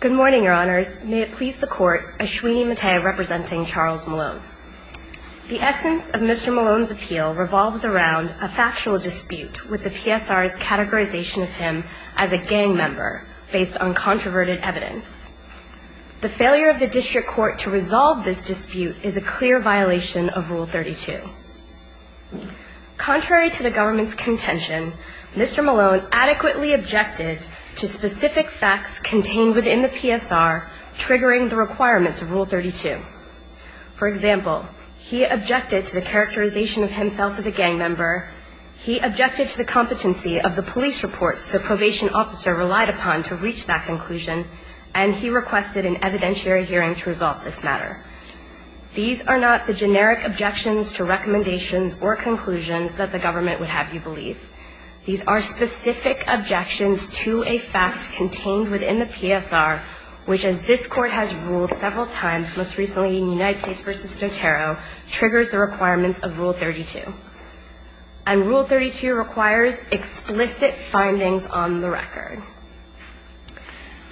Good morning, your honors. May it please the court, Ashwini Mathai representing Charles Malone. The essence of Mr. Malone's appeal revolves around a factual dispute with the PSR's categorization of him as a gang member based on controverted evidence. The failure of the district court to resolve this dispute is a clear violation of Rule 32. Contrary to the government's contention, Mr. Malone adequately objected to specific facts contained within the PSR triggering the requirements of Rule 32. For example, he objected to the characterization of himself as a gang member, he objected to the competency of the police reports the probation officer relied upon to reach that conclusion, and he requested an evidentiary hearing to resolve this matter. These are not the generic objections to recommendations or conclusions that the government would have you believe. These are specific objections to a fact contained within the PSR, which as this court has ruled several times, most recently in United States v. Notaro, triggers the requirements of Rule 32. And Rule 32 requires explicit findings on the record.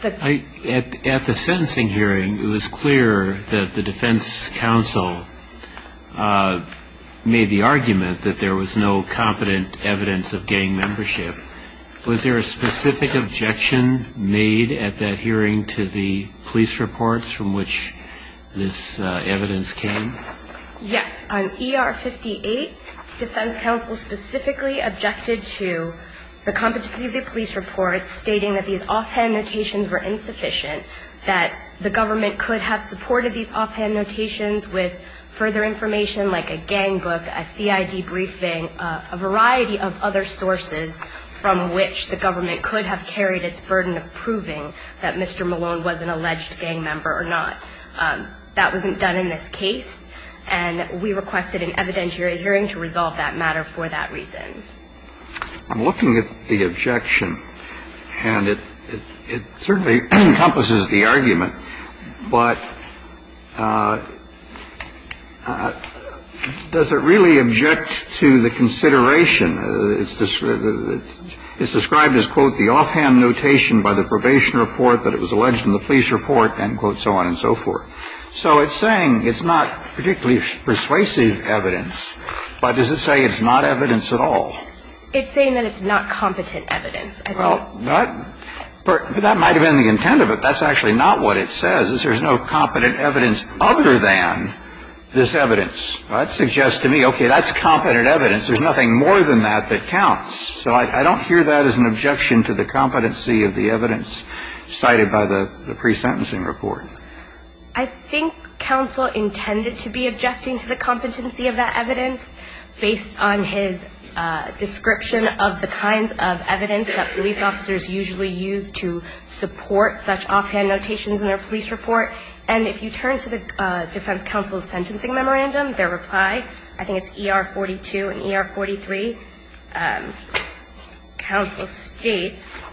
At the sentencing hearing, it was clear that the defense counsel made the argument that there was no competent evidence of gang membership. Was there a specific objection made at that hearing to the police reports from which this evidence came? Yes. On ER 58, defense counsel specifically objected to the competency of the police reports, stating that these offhand notations were insufficient, that the government could have supported these offhand notations with further information like a gang book, a CID briefing, a variety of other sources from which the government could have carried its burden of proving that Mr. Malone was an alleged gang member or not. That wasn't done in this case, and we requested an evidentiary hearing to resolve that matter for that reason. I'm looking at the objection, and it certainly encompasses the argument, but does it really object to the consideration? It's described as, quote, the offhand notation by the probation report that it was alleged in the police report, end quote, so on and so forth. So it's saying it's not particularly persuasive evidence, but does it say it's not evidence at all? It's saying that it's not competent evidence. Well, that might have been the intent of it. That's actually not what it says, is there's no competent evidence other than this evidence. That suggests to me, okay, that's competent evidence. There's nothing more than that that counts. So I don't hear that as an objection to the competency of the evidence cited by the pre-sentencing report. I think counsel intended to be objecting to the competency of that evidence based on his description of the kinds of evidence that police officers usually use to support such offhand notations in their police report. And if you turn to the defense counsel's sentencing memorandum, their reply, I think it's ER42 and ER43, counsel states,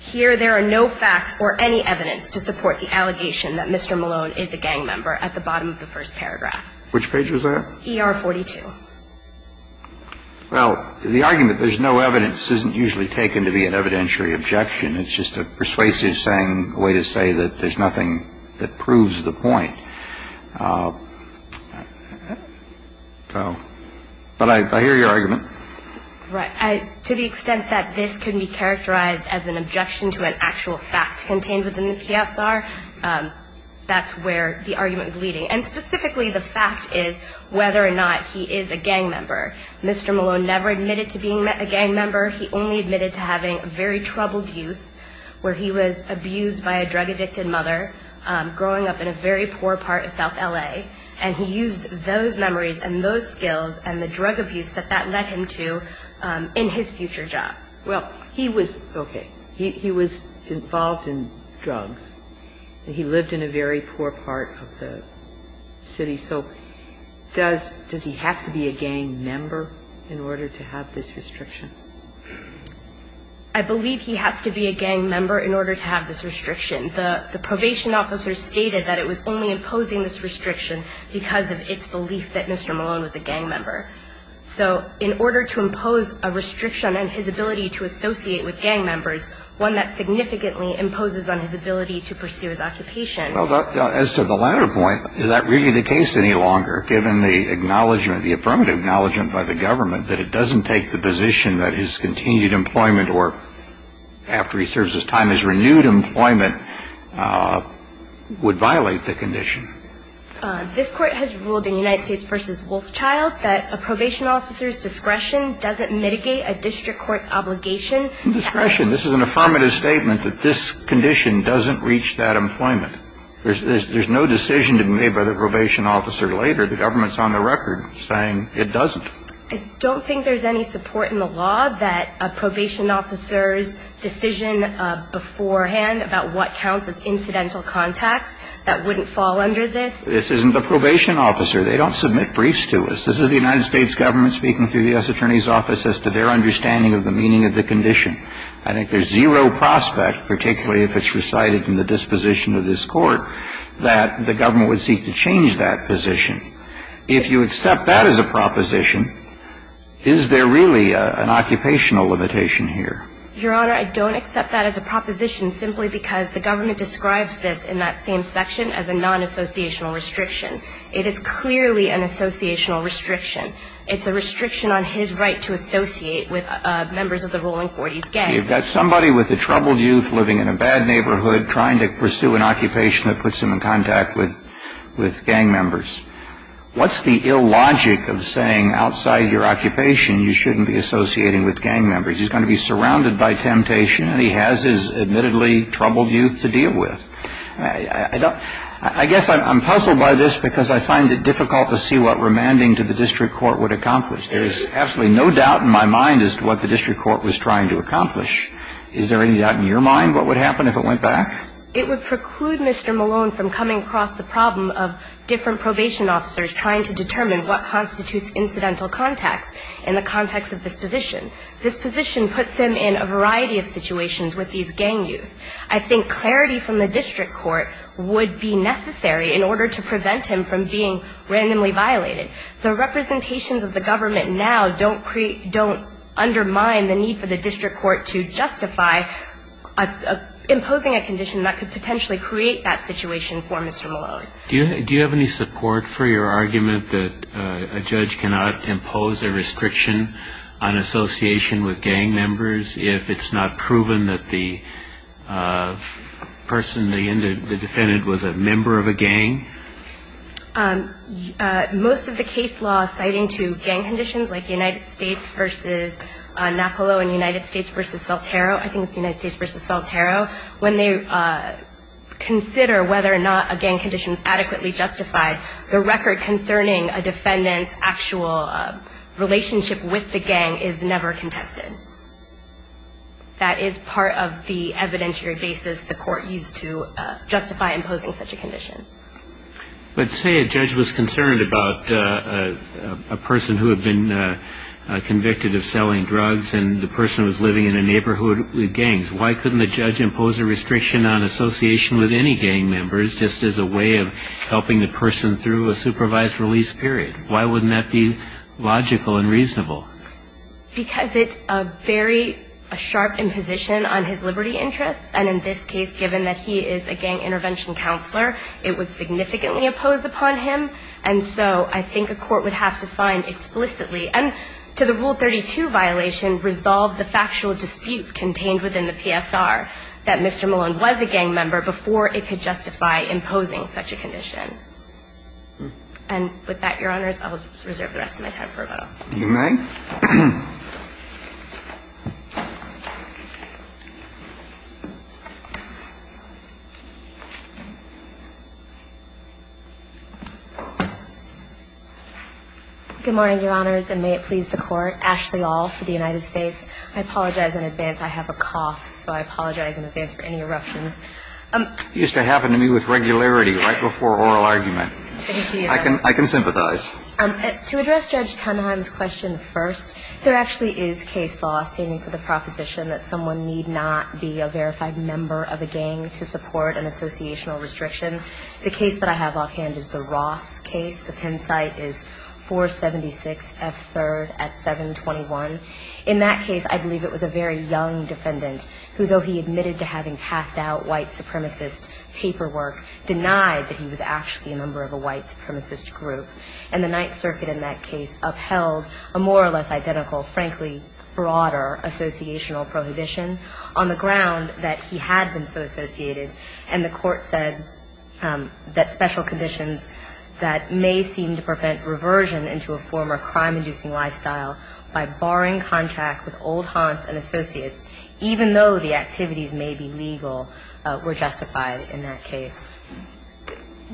here there are no facts or any evidence to support the allegation that Mr. Malone is a gang member at the bottom of the first paragraph. Which page was that? ER42. Well, the argument there's no evidence isn't usually taken to be an evidentiary objection. It's just a persuasive saying, a way to say that there's nothing that proves the point. So, but I hear your argument. Right. To the extent that this could be characterized as an objection to an actual fact contained within the PSR, that's where the argument is leading. And specifically, the fact is whether or not he is a gang member. Mr. Malone never admitted to being a gang member. He only admitted to having a very troubled youth where he was abused by a drug-addicted mother growing up in a very poor part of south L.A., and he used those memories and those skills and the drug abuse that that led him to in his future job. Well, he was, okay, he was involved in drugs. He lived in a very poor part of the city. So does he have to be a gang member in order to have this restriction? I believe he has to be a gang member in order to have this restriction. The probation officer stated that it was only imposing this restriction because of its belief that Mr. Malone was a gang member. So in order to impose a restriction and his ability to associate with gang members, one that significantly imposes on his ability to pursue his occupation. Well, as to the latter point, is that really the case any longer, given the acknowledgement, the affirmative acknowledgement by the government that it doesn't take the position that his continued employment or, after he serves his time, his renewed employment would violate the condition? This Court has ruled in United States v. Wolfchild that a probation officer's discretion doesn't mitigate a district court obligation. Discretion. This is an affirmative statement that this condition doesn't reach that employment. There's no decision to be made by the probation officer later. The government's on the record saying it doesn't. I don't think there's any support in the law that a probation officer's decision beforehand about what counts as incidental contacts, that wouldn't fall under this. This isn't the probation officer. They don't submit briefs to us. This is the United States government speaking through the U.S. Attorney's Office as to their understanding of the meaning of the condition. I think there's zero prospect, particularly if it's recited from the disposition of this Court, that the government would seek to change that position. If you accept that as a proposition, is there really an occupational limitation here? Your Honor, I don't accept that as a proposition simply because the government describes this in that same section as a non-associational restriction. It is clearly an associational restriction. It's a restriction on his right to associate with members of the rolling 40s gang. You've got somebody with a troubled youth living in a bad neighborhood trying to pursue an occupation that puts him in contact with gang members. What's the ill logic of saying outside your occupation you shouldn't be associating with gang members? He's going to be surrounded by temptation and he has his admittedly troubled youth to deal with. I guess I'm puzzled by this because I find it difficult to see what remanding to the district court would accomplish. There is absolutely no doubt in my mind as to what the district court was trying to accomplish. Is there any doubt in your mind what would happen if it went back? It would preclude Mr. Malone from coming across the problem of different probation officers trying to determine what constitutes incidental contacts in the context of disposition. Disposition puts him in a variety of situations with these gang youth. I think clarity from the district court would be necessary in order to prevent him from being randomly violated. The representations of the government now don't undermine the need for the district court to justify imposing a condition that could potentially create that situation for Mr. Malone. Do you have any support for your argument that a judge cannot impose a restriction on association with gang members if it's not proven that the person, the defendant, was a member of a gang? Most of the case law citing to gang conditions like United States versus Napolo and United States versus Saltero, I think it's United States versus Saltero, when they consider whether or not a gang condition is adequately justified, the record concerning a defendant's actual relationship with the gang is never contested. That is part of the evidentiary basis the court used to justify imposing such a condition. But say a judge was concerned about a person who had been convicted of selling drugs and the person was living in a neighborhood with gangs. Why couldn't the judge impose a restriction on association with any gang members just as a way of helping the person through a supervised release period? Why wouldn't that be logical and reasonable? Because it's a very sharp imposition on his liberty interests. And in this case, given that he is a gang intervention counselor, it was significantly opposed upon him. And so I think a court would have to find explicitly, and to the Rule 32 violation, resolve the factual dispute contained within the PSR that Mr. Malone was a gang member before it could justify imposing such a condition. And with that, Your Honors, I will reserve the rest of my time for rebuttal. You may. Good morning, Your Honors, and may it please the Court. Ashley Aul for the United States. I apologize in advance. I have a cough, so I apologize in advance for any eruptions. It used to happen to me with regularity right before oral argument. I can sympathize. To address Judge Tenenheim's question first, there actually is case law standing for the proposition that someone need not be a verified member of a gang to support an associational restriction. The case that I have offhand is the Ross case. The Penn site is 476F3rd at 721. In that case, I believe it was a very young defendant who, though he admitted to having passed out white supremacist paperwork, denied that he was actually a member of a white supremacist group. And the Ninth Circuit in that case upheld a more or less identical, frankly, broader associational prohibition on the ground that he had been so associated. And the Court said that special conditions that may seem to prevent reversion into a former crime-inducing lifestyle by barring contract with old haunts and associates, even though the activities may be legal, were justified in that case.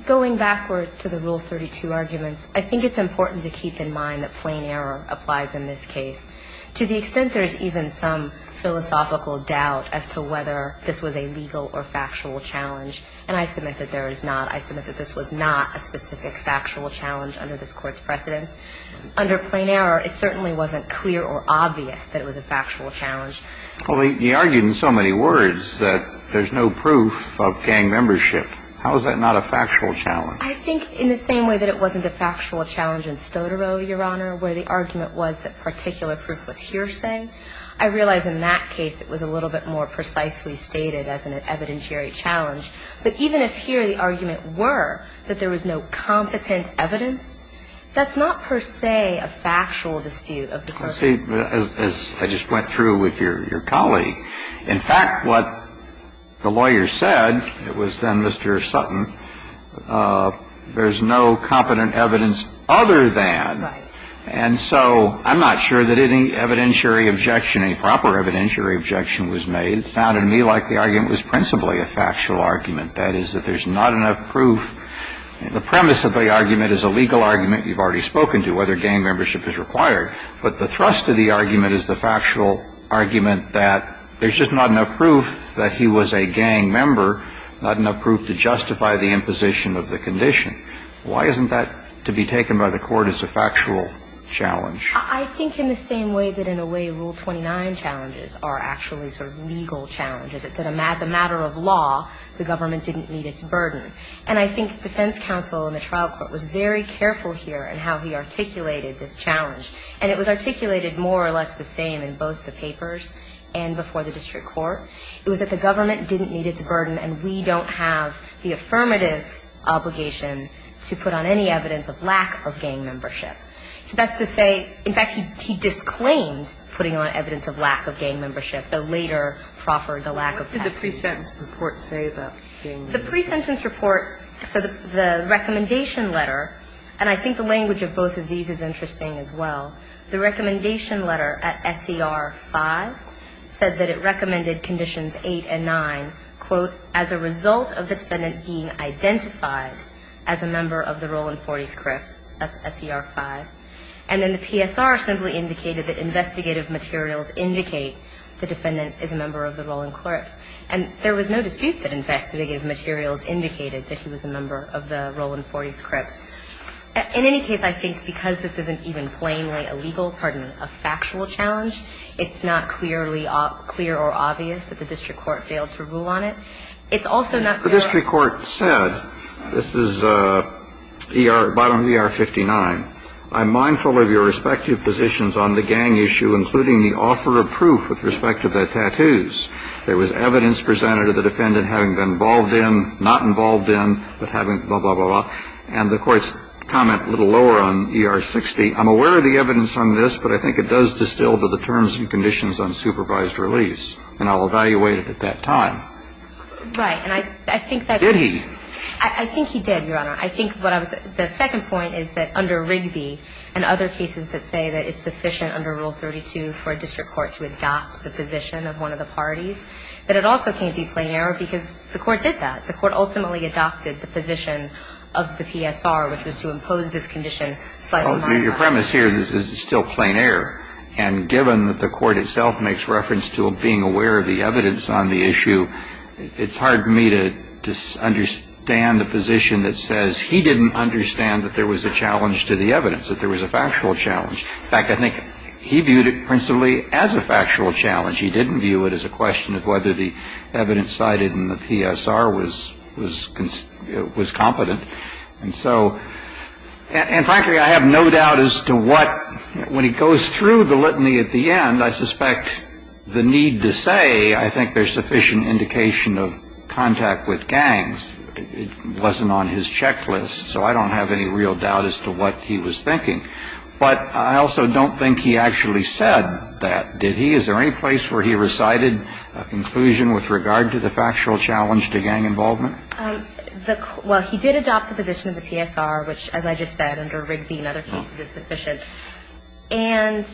Going backwards to the Rule 32 arguments, I think it's important to keep in mind that plain error applies in this case. To the extent there is even some philosophical doubt as to whether this was a legal or factual challenge, and I submit that there is not. I submit that this was not a specific factual challenge under this Court's precedence. Under plain error, it certainly wasn't clear or obvious that it was a factual challenge. Well, he argued in so many words that there's no proof of gang membership. How is that not a factual challenge? I think in the same way that it wasn't a factual challenge in Stodoro, Your Honor, where the argument was that particular proof was hearsay, I realize in that case it was a little bit more precisely stated as an evidentiary challenge. But even if here the argument were that there was no competent evidence, that's not per se a factual dispute of the circuit. Well, as I just went through with your colleague, in fact, what the lawyer said, it was then Mr. Sutton, there's no competent evidence other than. Right. And so I'm not sure that any evidentiary objection, any proper evidentiary objection was made. It sounded to me like the argument was principally a factual argument, that is, that there's not enough proof. The premise of the argument is a legal argument you've already spoken to, whether gang membership is required. But the thrust of the argument is the factual argument that there's just not enough proof that he was a gang member, not enough proof to justify the imposition of the condition. Why isn't that to be taken by the Court as a factual challenge? I think in the same way that in a way Rule 29 challenges are actually sort of legal challenges. As a matter of law, the government didn't meet its burden. And I think defense counsel in the trial court was very careful here in how he articulated this challenge. And it was articulated more or less the same in both the papers and before the district court. It was that the government didn't meet its burden, and we don't have the affirmative obligation to put on any evidence of lack of gang membership. So that's to say, in fact, he disclaimed putting on evidence of lack of gang membership, though later proffered the lack of tax relief. What did the pre-sentence report say about gang membership? I think the language of both of these is interesting as well. The recommendation letter at SER 5 said that it recommended conditions 8 and 9, quote, as a result of the defendant being identified as a member of the Roland Forties Crips. That's SER 5. And then the PSR simply indicated that investigative materials indicate the defendant is a member of the Roland Clerks. And there was no dispute that investigative materials indicated that he was a member of the Roland Forties Crips. In any case, I think because this isn't even plainly a legal, pardon me, a factual challenge, it's not clearly clear or obvious that the district court failed to rule on it. It's also not clear that the district court said, this is ER, bottom of ER 59, I'm mindful of your respective positions on the gang issue, including the offer of proof with respect to the tattoos. There was evidence presented of the defendant having been involved in, not involved in, but having, blah, blah, blah, blah. And the Court's comment a little lower on ER 60, I'm aware of the evidence on this, but I think it does distill to the terms and conditions on supervised release. And I'll evaluate it at that time. Right. And I think that's why. Did he? I think he did, Your Honor. I think what I was going to say. The second point is that under Rigby and other cases that say that it's sufficient under Rule 32 for a district court to adopt the position of one of the parties, that it also can't be plain error because the Court did that. The Court ultimately adopted the position of the PSR, which was to impose this condition slightly more. Your premise here is it's still plain error. And given that the Court itself makes reference to being aware of the evidence on the issue, it's hard for me to understand a position that says he didn't understand that there was a challenge to the evidence, that there was a factual challenge. In fact, I think he viewed it principally as a factual challenge. He didn't view it as a question of whether the evidence cited in the PSR was competent. And so, and frankly, I have no doubt as to what, when he goes through the litany at the end, I suspect the need to say I think there's sufficient indication of contact with gangs wasn't on his checklist. So I don't have any real doubt as to what he was thinking. But I also don't think he actually said that. Did he? Is there any place where he recited a conclusion with regard to the factual challenge to gang involvement? Well, he did adopt the position of the PSR, which, as I just said, under Rigby and other cases is sufficient. And,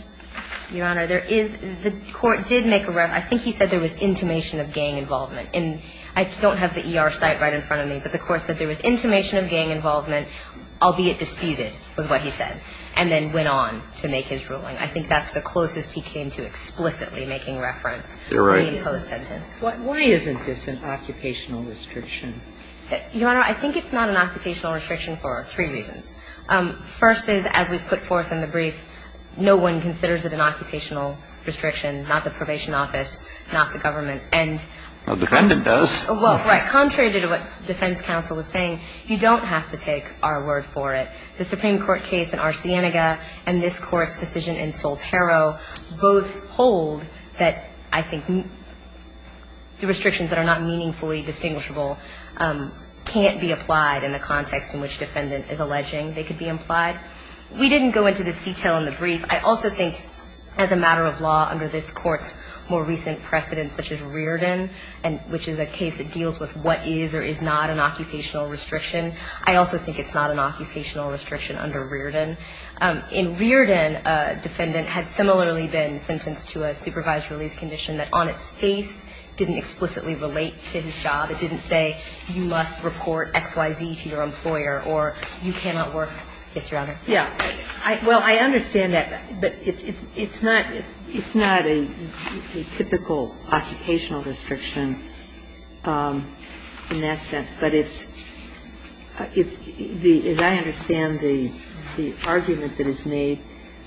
Your Honor, there is, the Court did make a reference, I think he said there was intimation of gang involvement. And I don't have the ER site right in front of me, but the Court said there was intimation of gang involvement, albeit disputed with what he said, and then went on to make his ruling. I think that's the closest he came to explicitly making reference. You're right. Why isn't this an occupational restriction? Your Honor, I think it's not an occupational restriction for three reasons. First is, as we put forth in the brief, no one considers it an occupational restriction, not the probation office, not the government. A defendant does. Well, right. Contrary to what defense counsel was saying, you don't have to take our word for The Supreme Court case in Arsenaga and this Court's decision in Soltero both hold that, I think, the restrictions that are not meaningfully distinguishable can't be applied in the context in which defendant is alleging they could be implied. We didn't go into this detail in the brief. I also think, as a matter of law, under this Court's more recent precedents, such as Rearden, which is a case that deals with what is or is not an occupational restriction, I also think it's not an occupational restriction under Rearden. In Rearden, a defendant had similarly been sentenced to a supervised release condition that on its face didn't explicitly relate to his job. It didn't say you must report X, Y, Z to your employer or you cannot work. Yes, Your Honor. Yeah. Well, I understand that, but it's not a typical occupational restriction in that sense. But it's the – as I understand the argument that is made,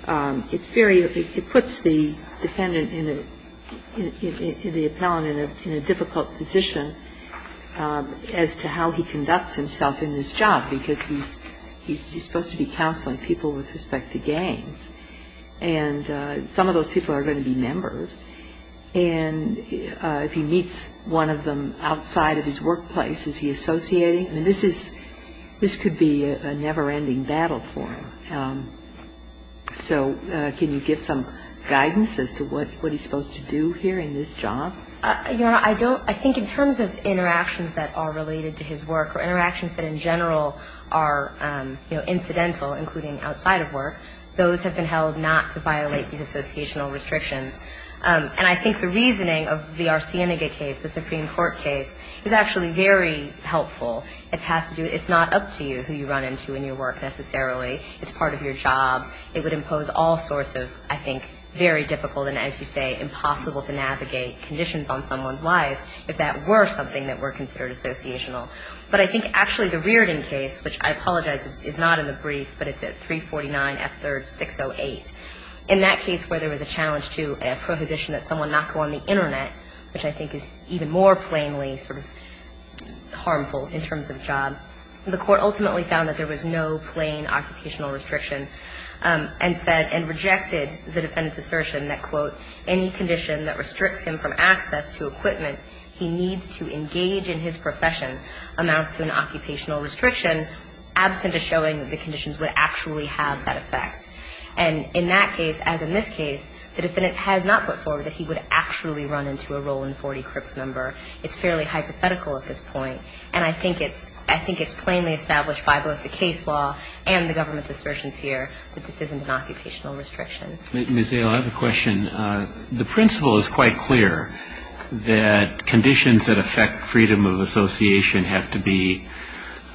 it's very – it puts the defendant in a – the appellant in a difficult position as to how he conducts himself in his job, because he's supposed to be counseling people with respect to games. And some of those people are going to be members. And if he meets one of them outside of his workplace, is he associating? I mean, this is – this could be a never-ending battle for him. So can you give some guidance as to what he's supposed to do here in this job? Your Honor, I don't – I think in terms of interactions that are related to his work or interactions that in general are, you know, incidental, including outside of work, those have been held not to violate these associational restrictions. And I think the reasoning of the Arsenaga case, the Supreme Court case, is actually very helpful. It has to do – it's not up to you who you run into in your work necessarily. It's part of your job. It would impose all sorts of, I think, very difficult and, as you say, impossible to navigate conditions on someone's life if that were something that were considered associational. But I think actually the Reardon case, which I apologize is not in the brief, but it's at 349 F3rd 608. In that case where there was a challenge to a prohibition that someone not go on the Internet, which I think is even more plainly sort of harmful in terms of job, the Court ultimately found that there was no plain occupational restriction and said – and rejected the defendant's assertion that, quote, any condition that restricts him from access to equipment, he needs to engage in his profession amounts to an occupational restriction absent a showing that the conditions would actually have that effect. And in that case, as in this case, the defendant has not put forward that he would actually run into a Roland Forty Crips member. It's fairly hypothetical at this point. And I think it's – I think it's plainly established by both the case law and the government's assertions here that this isn't an occupational restriction. Ms. Ayl, I have a question. The principle is quite clear that conditions that affect freedom of association have to be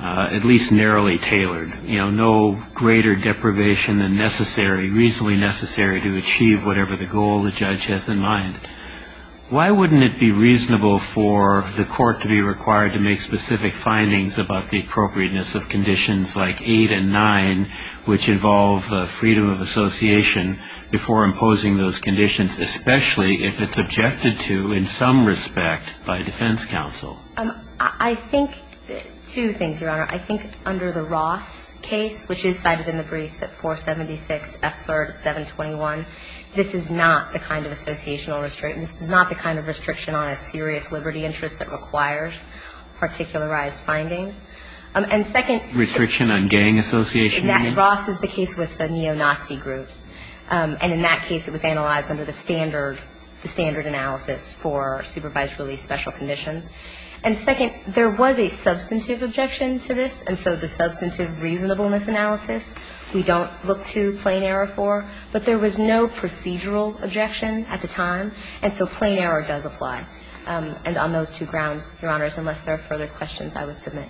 at least narrowly tailored. You know, no greater deprivation than necessary, reasonably necessary to achieve whatever the goal the judge has in mind. Why wouldn't it be reasonable for the Court to be required to make specific findings about the appropriateness of conditions like 8 and 9, which involve the freedom of association, before imposing those conditions, especially if it's objected to in some respect by defense counsel? I think two things, Your Honor. I think under the Ross case, which is cited in the briefs at 476 F. 3rd, 721, this is not the kind of associational restriction. This is not the kind of restriction on a serious liberty interest that requires particularized findings. And second – Restriction on gang association? Exactly. Ross is the case with the neo-Nazi groups. And in that case, it was analyzed under the standard analysis for supervised release special conditions. And second, there was a substantive objection to this. And so the substantive reasonableness analysis, we don't look to plain error for. But there was no procedural objection at the time. And so plain error does apply. And on those two grounds, Your Honors, unless there are further questions, I would submit.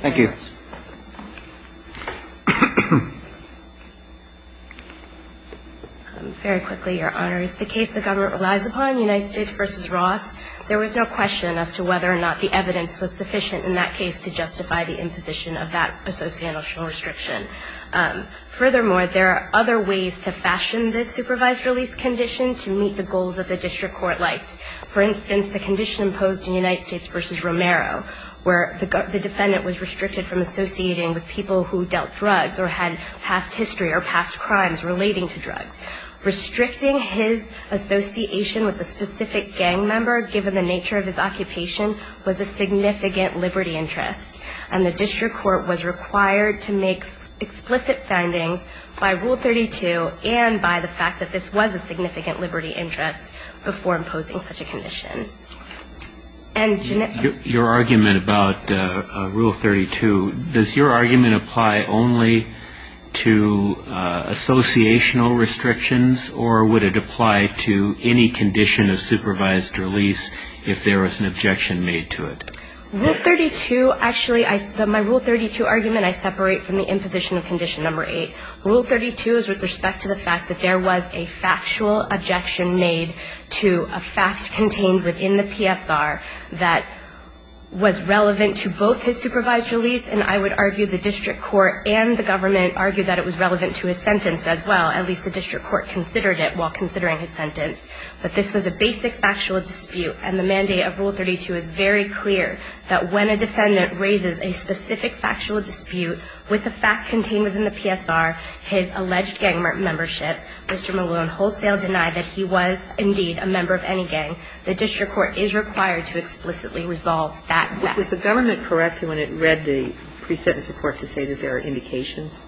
Thank you. Very quickly, Your Honors. The case the government relies upon, United States v. Ross, there was no question as to whether or not the evidence was sufficient in that case to justify the imposition of that associational restriction. Furthermore, there are other ways to fashion this supervised release condition to meet the goals of the district court. Like, for instance, the condition imposed in United States v. Romero where the defendant was restricted from associating with people who dealt drugs or had past history or past crimes relating to drugs. Restricting his association with a specific gang member, given the nature of his occupation, was a significant liberty interest. And the district court was required to make explicit findings by Rule 32 and by the fact that this was a significant liberty interest before imposing such a condition. Your argument about Rule 32, does your argument apply only to associational restrictions or would it apply to any condition of supervised release if there was an objection made to it? Rule 32, actually, my Rule 32 argument I separate from the imposition of condition number 8. Rule 32 is with respect to the fact that there was a factual objection made to a fact contained within the PSR that was relevant to both his supervised release. And I would argue the district court and the government argued that it was relevant to his sentence as well. At least the district court considered it while considering his sentence. But this was a basic factual dispute. And the mandate of Rule 32 is very clear that when a defendant raises a specific factual dispute with a fact contained within the PSR, his alleged gang membership, Mr. Malone wholesale denied that he was indeed a member of any gang. The district court is required to explicitly resolve that fact. But was the government correct when it read the pre-sentence report to say that there are indications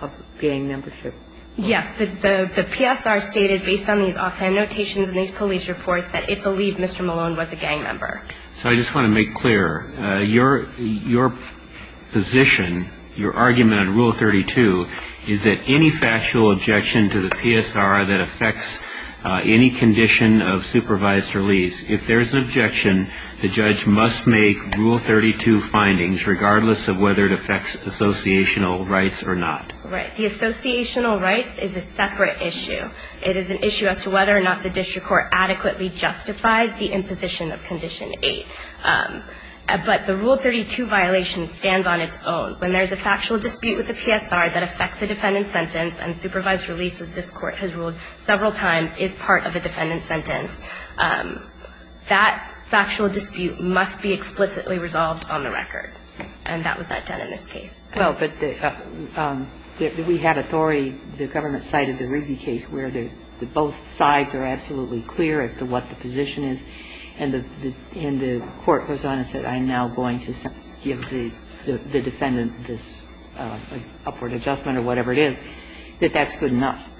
of gang membership? Yes. The PSR stated based on these offhand notations and these police reports that it believed Mr. Malone was a gang member. So I just want to make clear, your position, your argument on Rule 32 is that any factual objection to the PSR that affects any condition of supervised release, if there is an objection, the judge must make Rule 32 findings regardless of whether it affects associational rights or not. Right. The associational rights is a separate issue. It is an issue as to whether or not the district court adequately justified the imposition of Condition 8. But the Rule 32 violation stands on its own. When there is a factual dispute with the PSR that affects a defendant's sentence and supervised release, as this Court has ruled several times, is part of a defendant's sentence, that factual dispute must be explicitly resolved on the record. And that was not done in this case. Well, but the – we had authority, the government cited the Rigby case where both sides are absolutely clear as to what the position is. And the court goes on and said, I'm now going to give the defendant this upward adjustment or whatever it is, that that's good enough.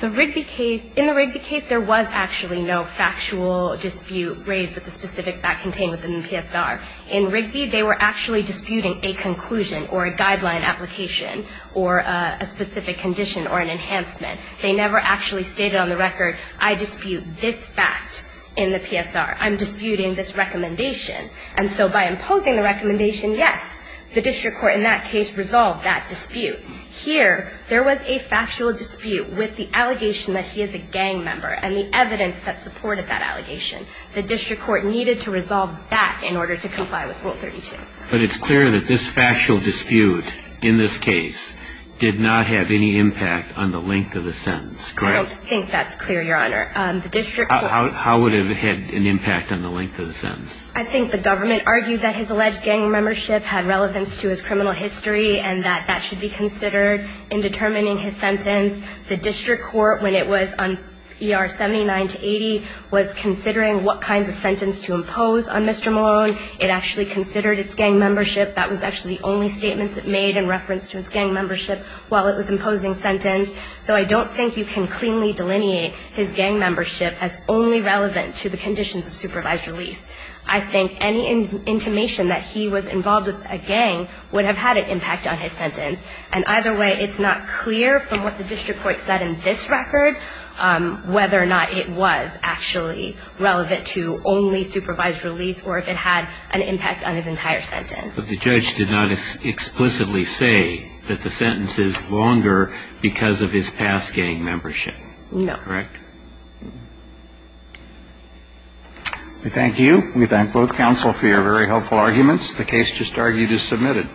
The Rigby case – in the Rigby case, there was actually no factual dispute raised with the specific fact contained within the PSR. In Rigby, they were actually disputing a conclusion or a guideline application or a specific condition or an enhancement. They never actually stated on the record, I dispute this fact in the PSR. I'm disputing this recommendation. And so by imposing the recommendation, yes, the district court in that case resolved that dispute. Here, there was a factual dispute with the allegation that he is a gang member and the evidence that supported that allegation. The district court needed to resolve that in order to comply with Rule 32. But it's clear that this factual dispute in this case did not have any impact on the length of the sentence. Great. I don't think that's clear, Your Honor. The district court – How would it have had an impact on the length of the sentence? I think the government argued that his alleged gang membership had relevance to his criminal history and that that should be considered in determining his sentence. The district court, when it was on ER 79 to 80, was considering what kinds of sentence to impose on Mr. Malone. It actually considered its gang membership. That was actually the only statement it made in reference to its gang membership while it was imposing sentence. So I don't think you can cleanly delineate his gang membership as only relevant to the conditions of supervised release. I think any intimation that he was involved with a gang would have had an impact on his sentence. And either way, it's not clear from what the district court said in this record whether or not it was actually relevant to only supervised release or if it had an impact on his entire sentence. But the judge did not explicitly say that the sentence is longer because of his past gang membership, correct? No. We thank you. We thank both counsel for your very helpful arguments. The case just argued is submitted.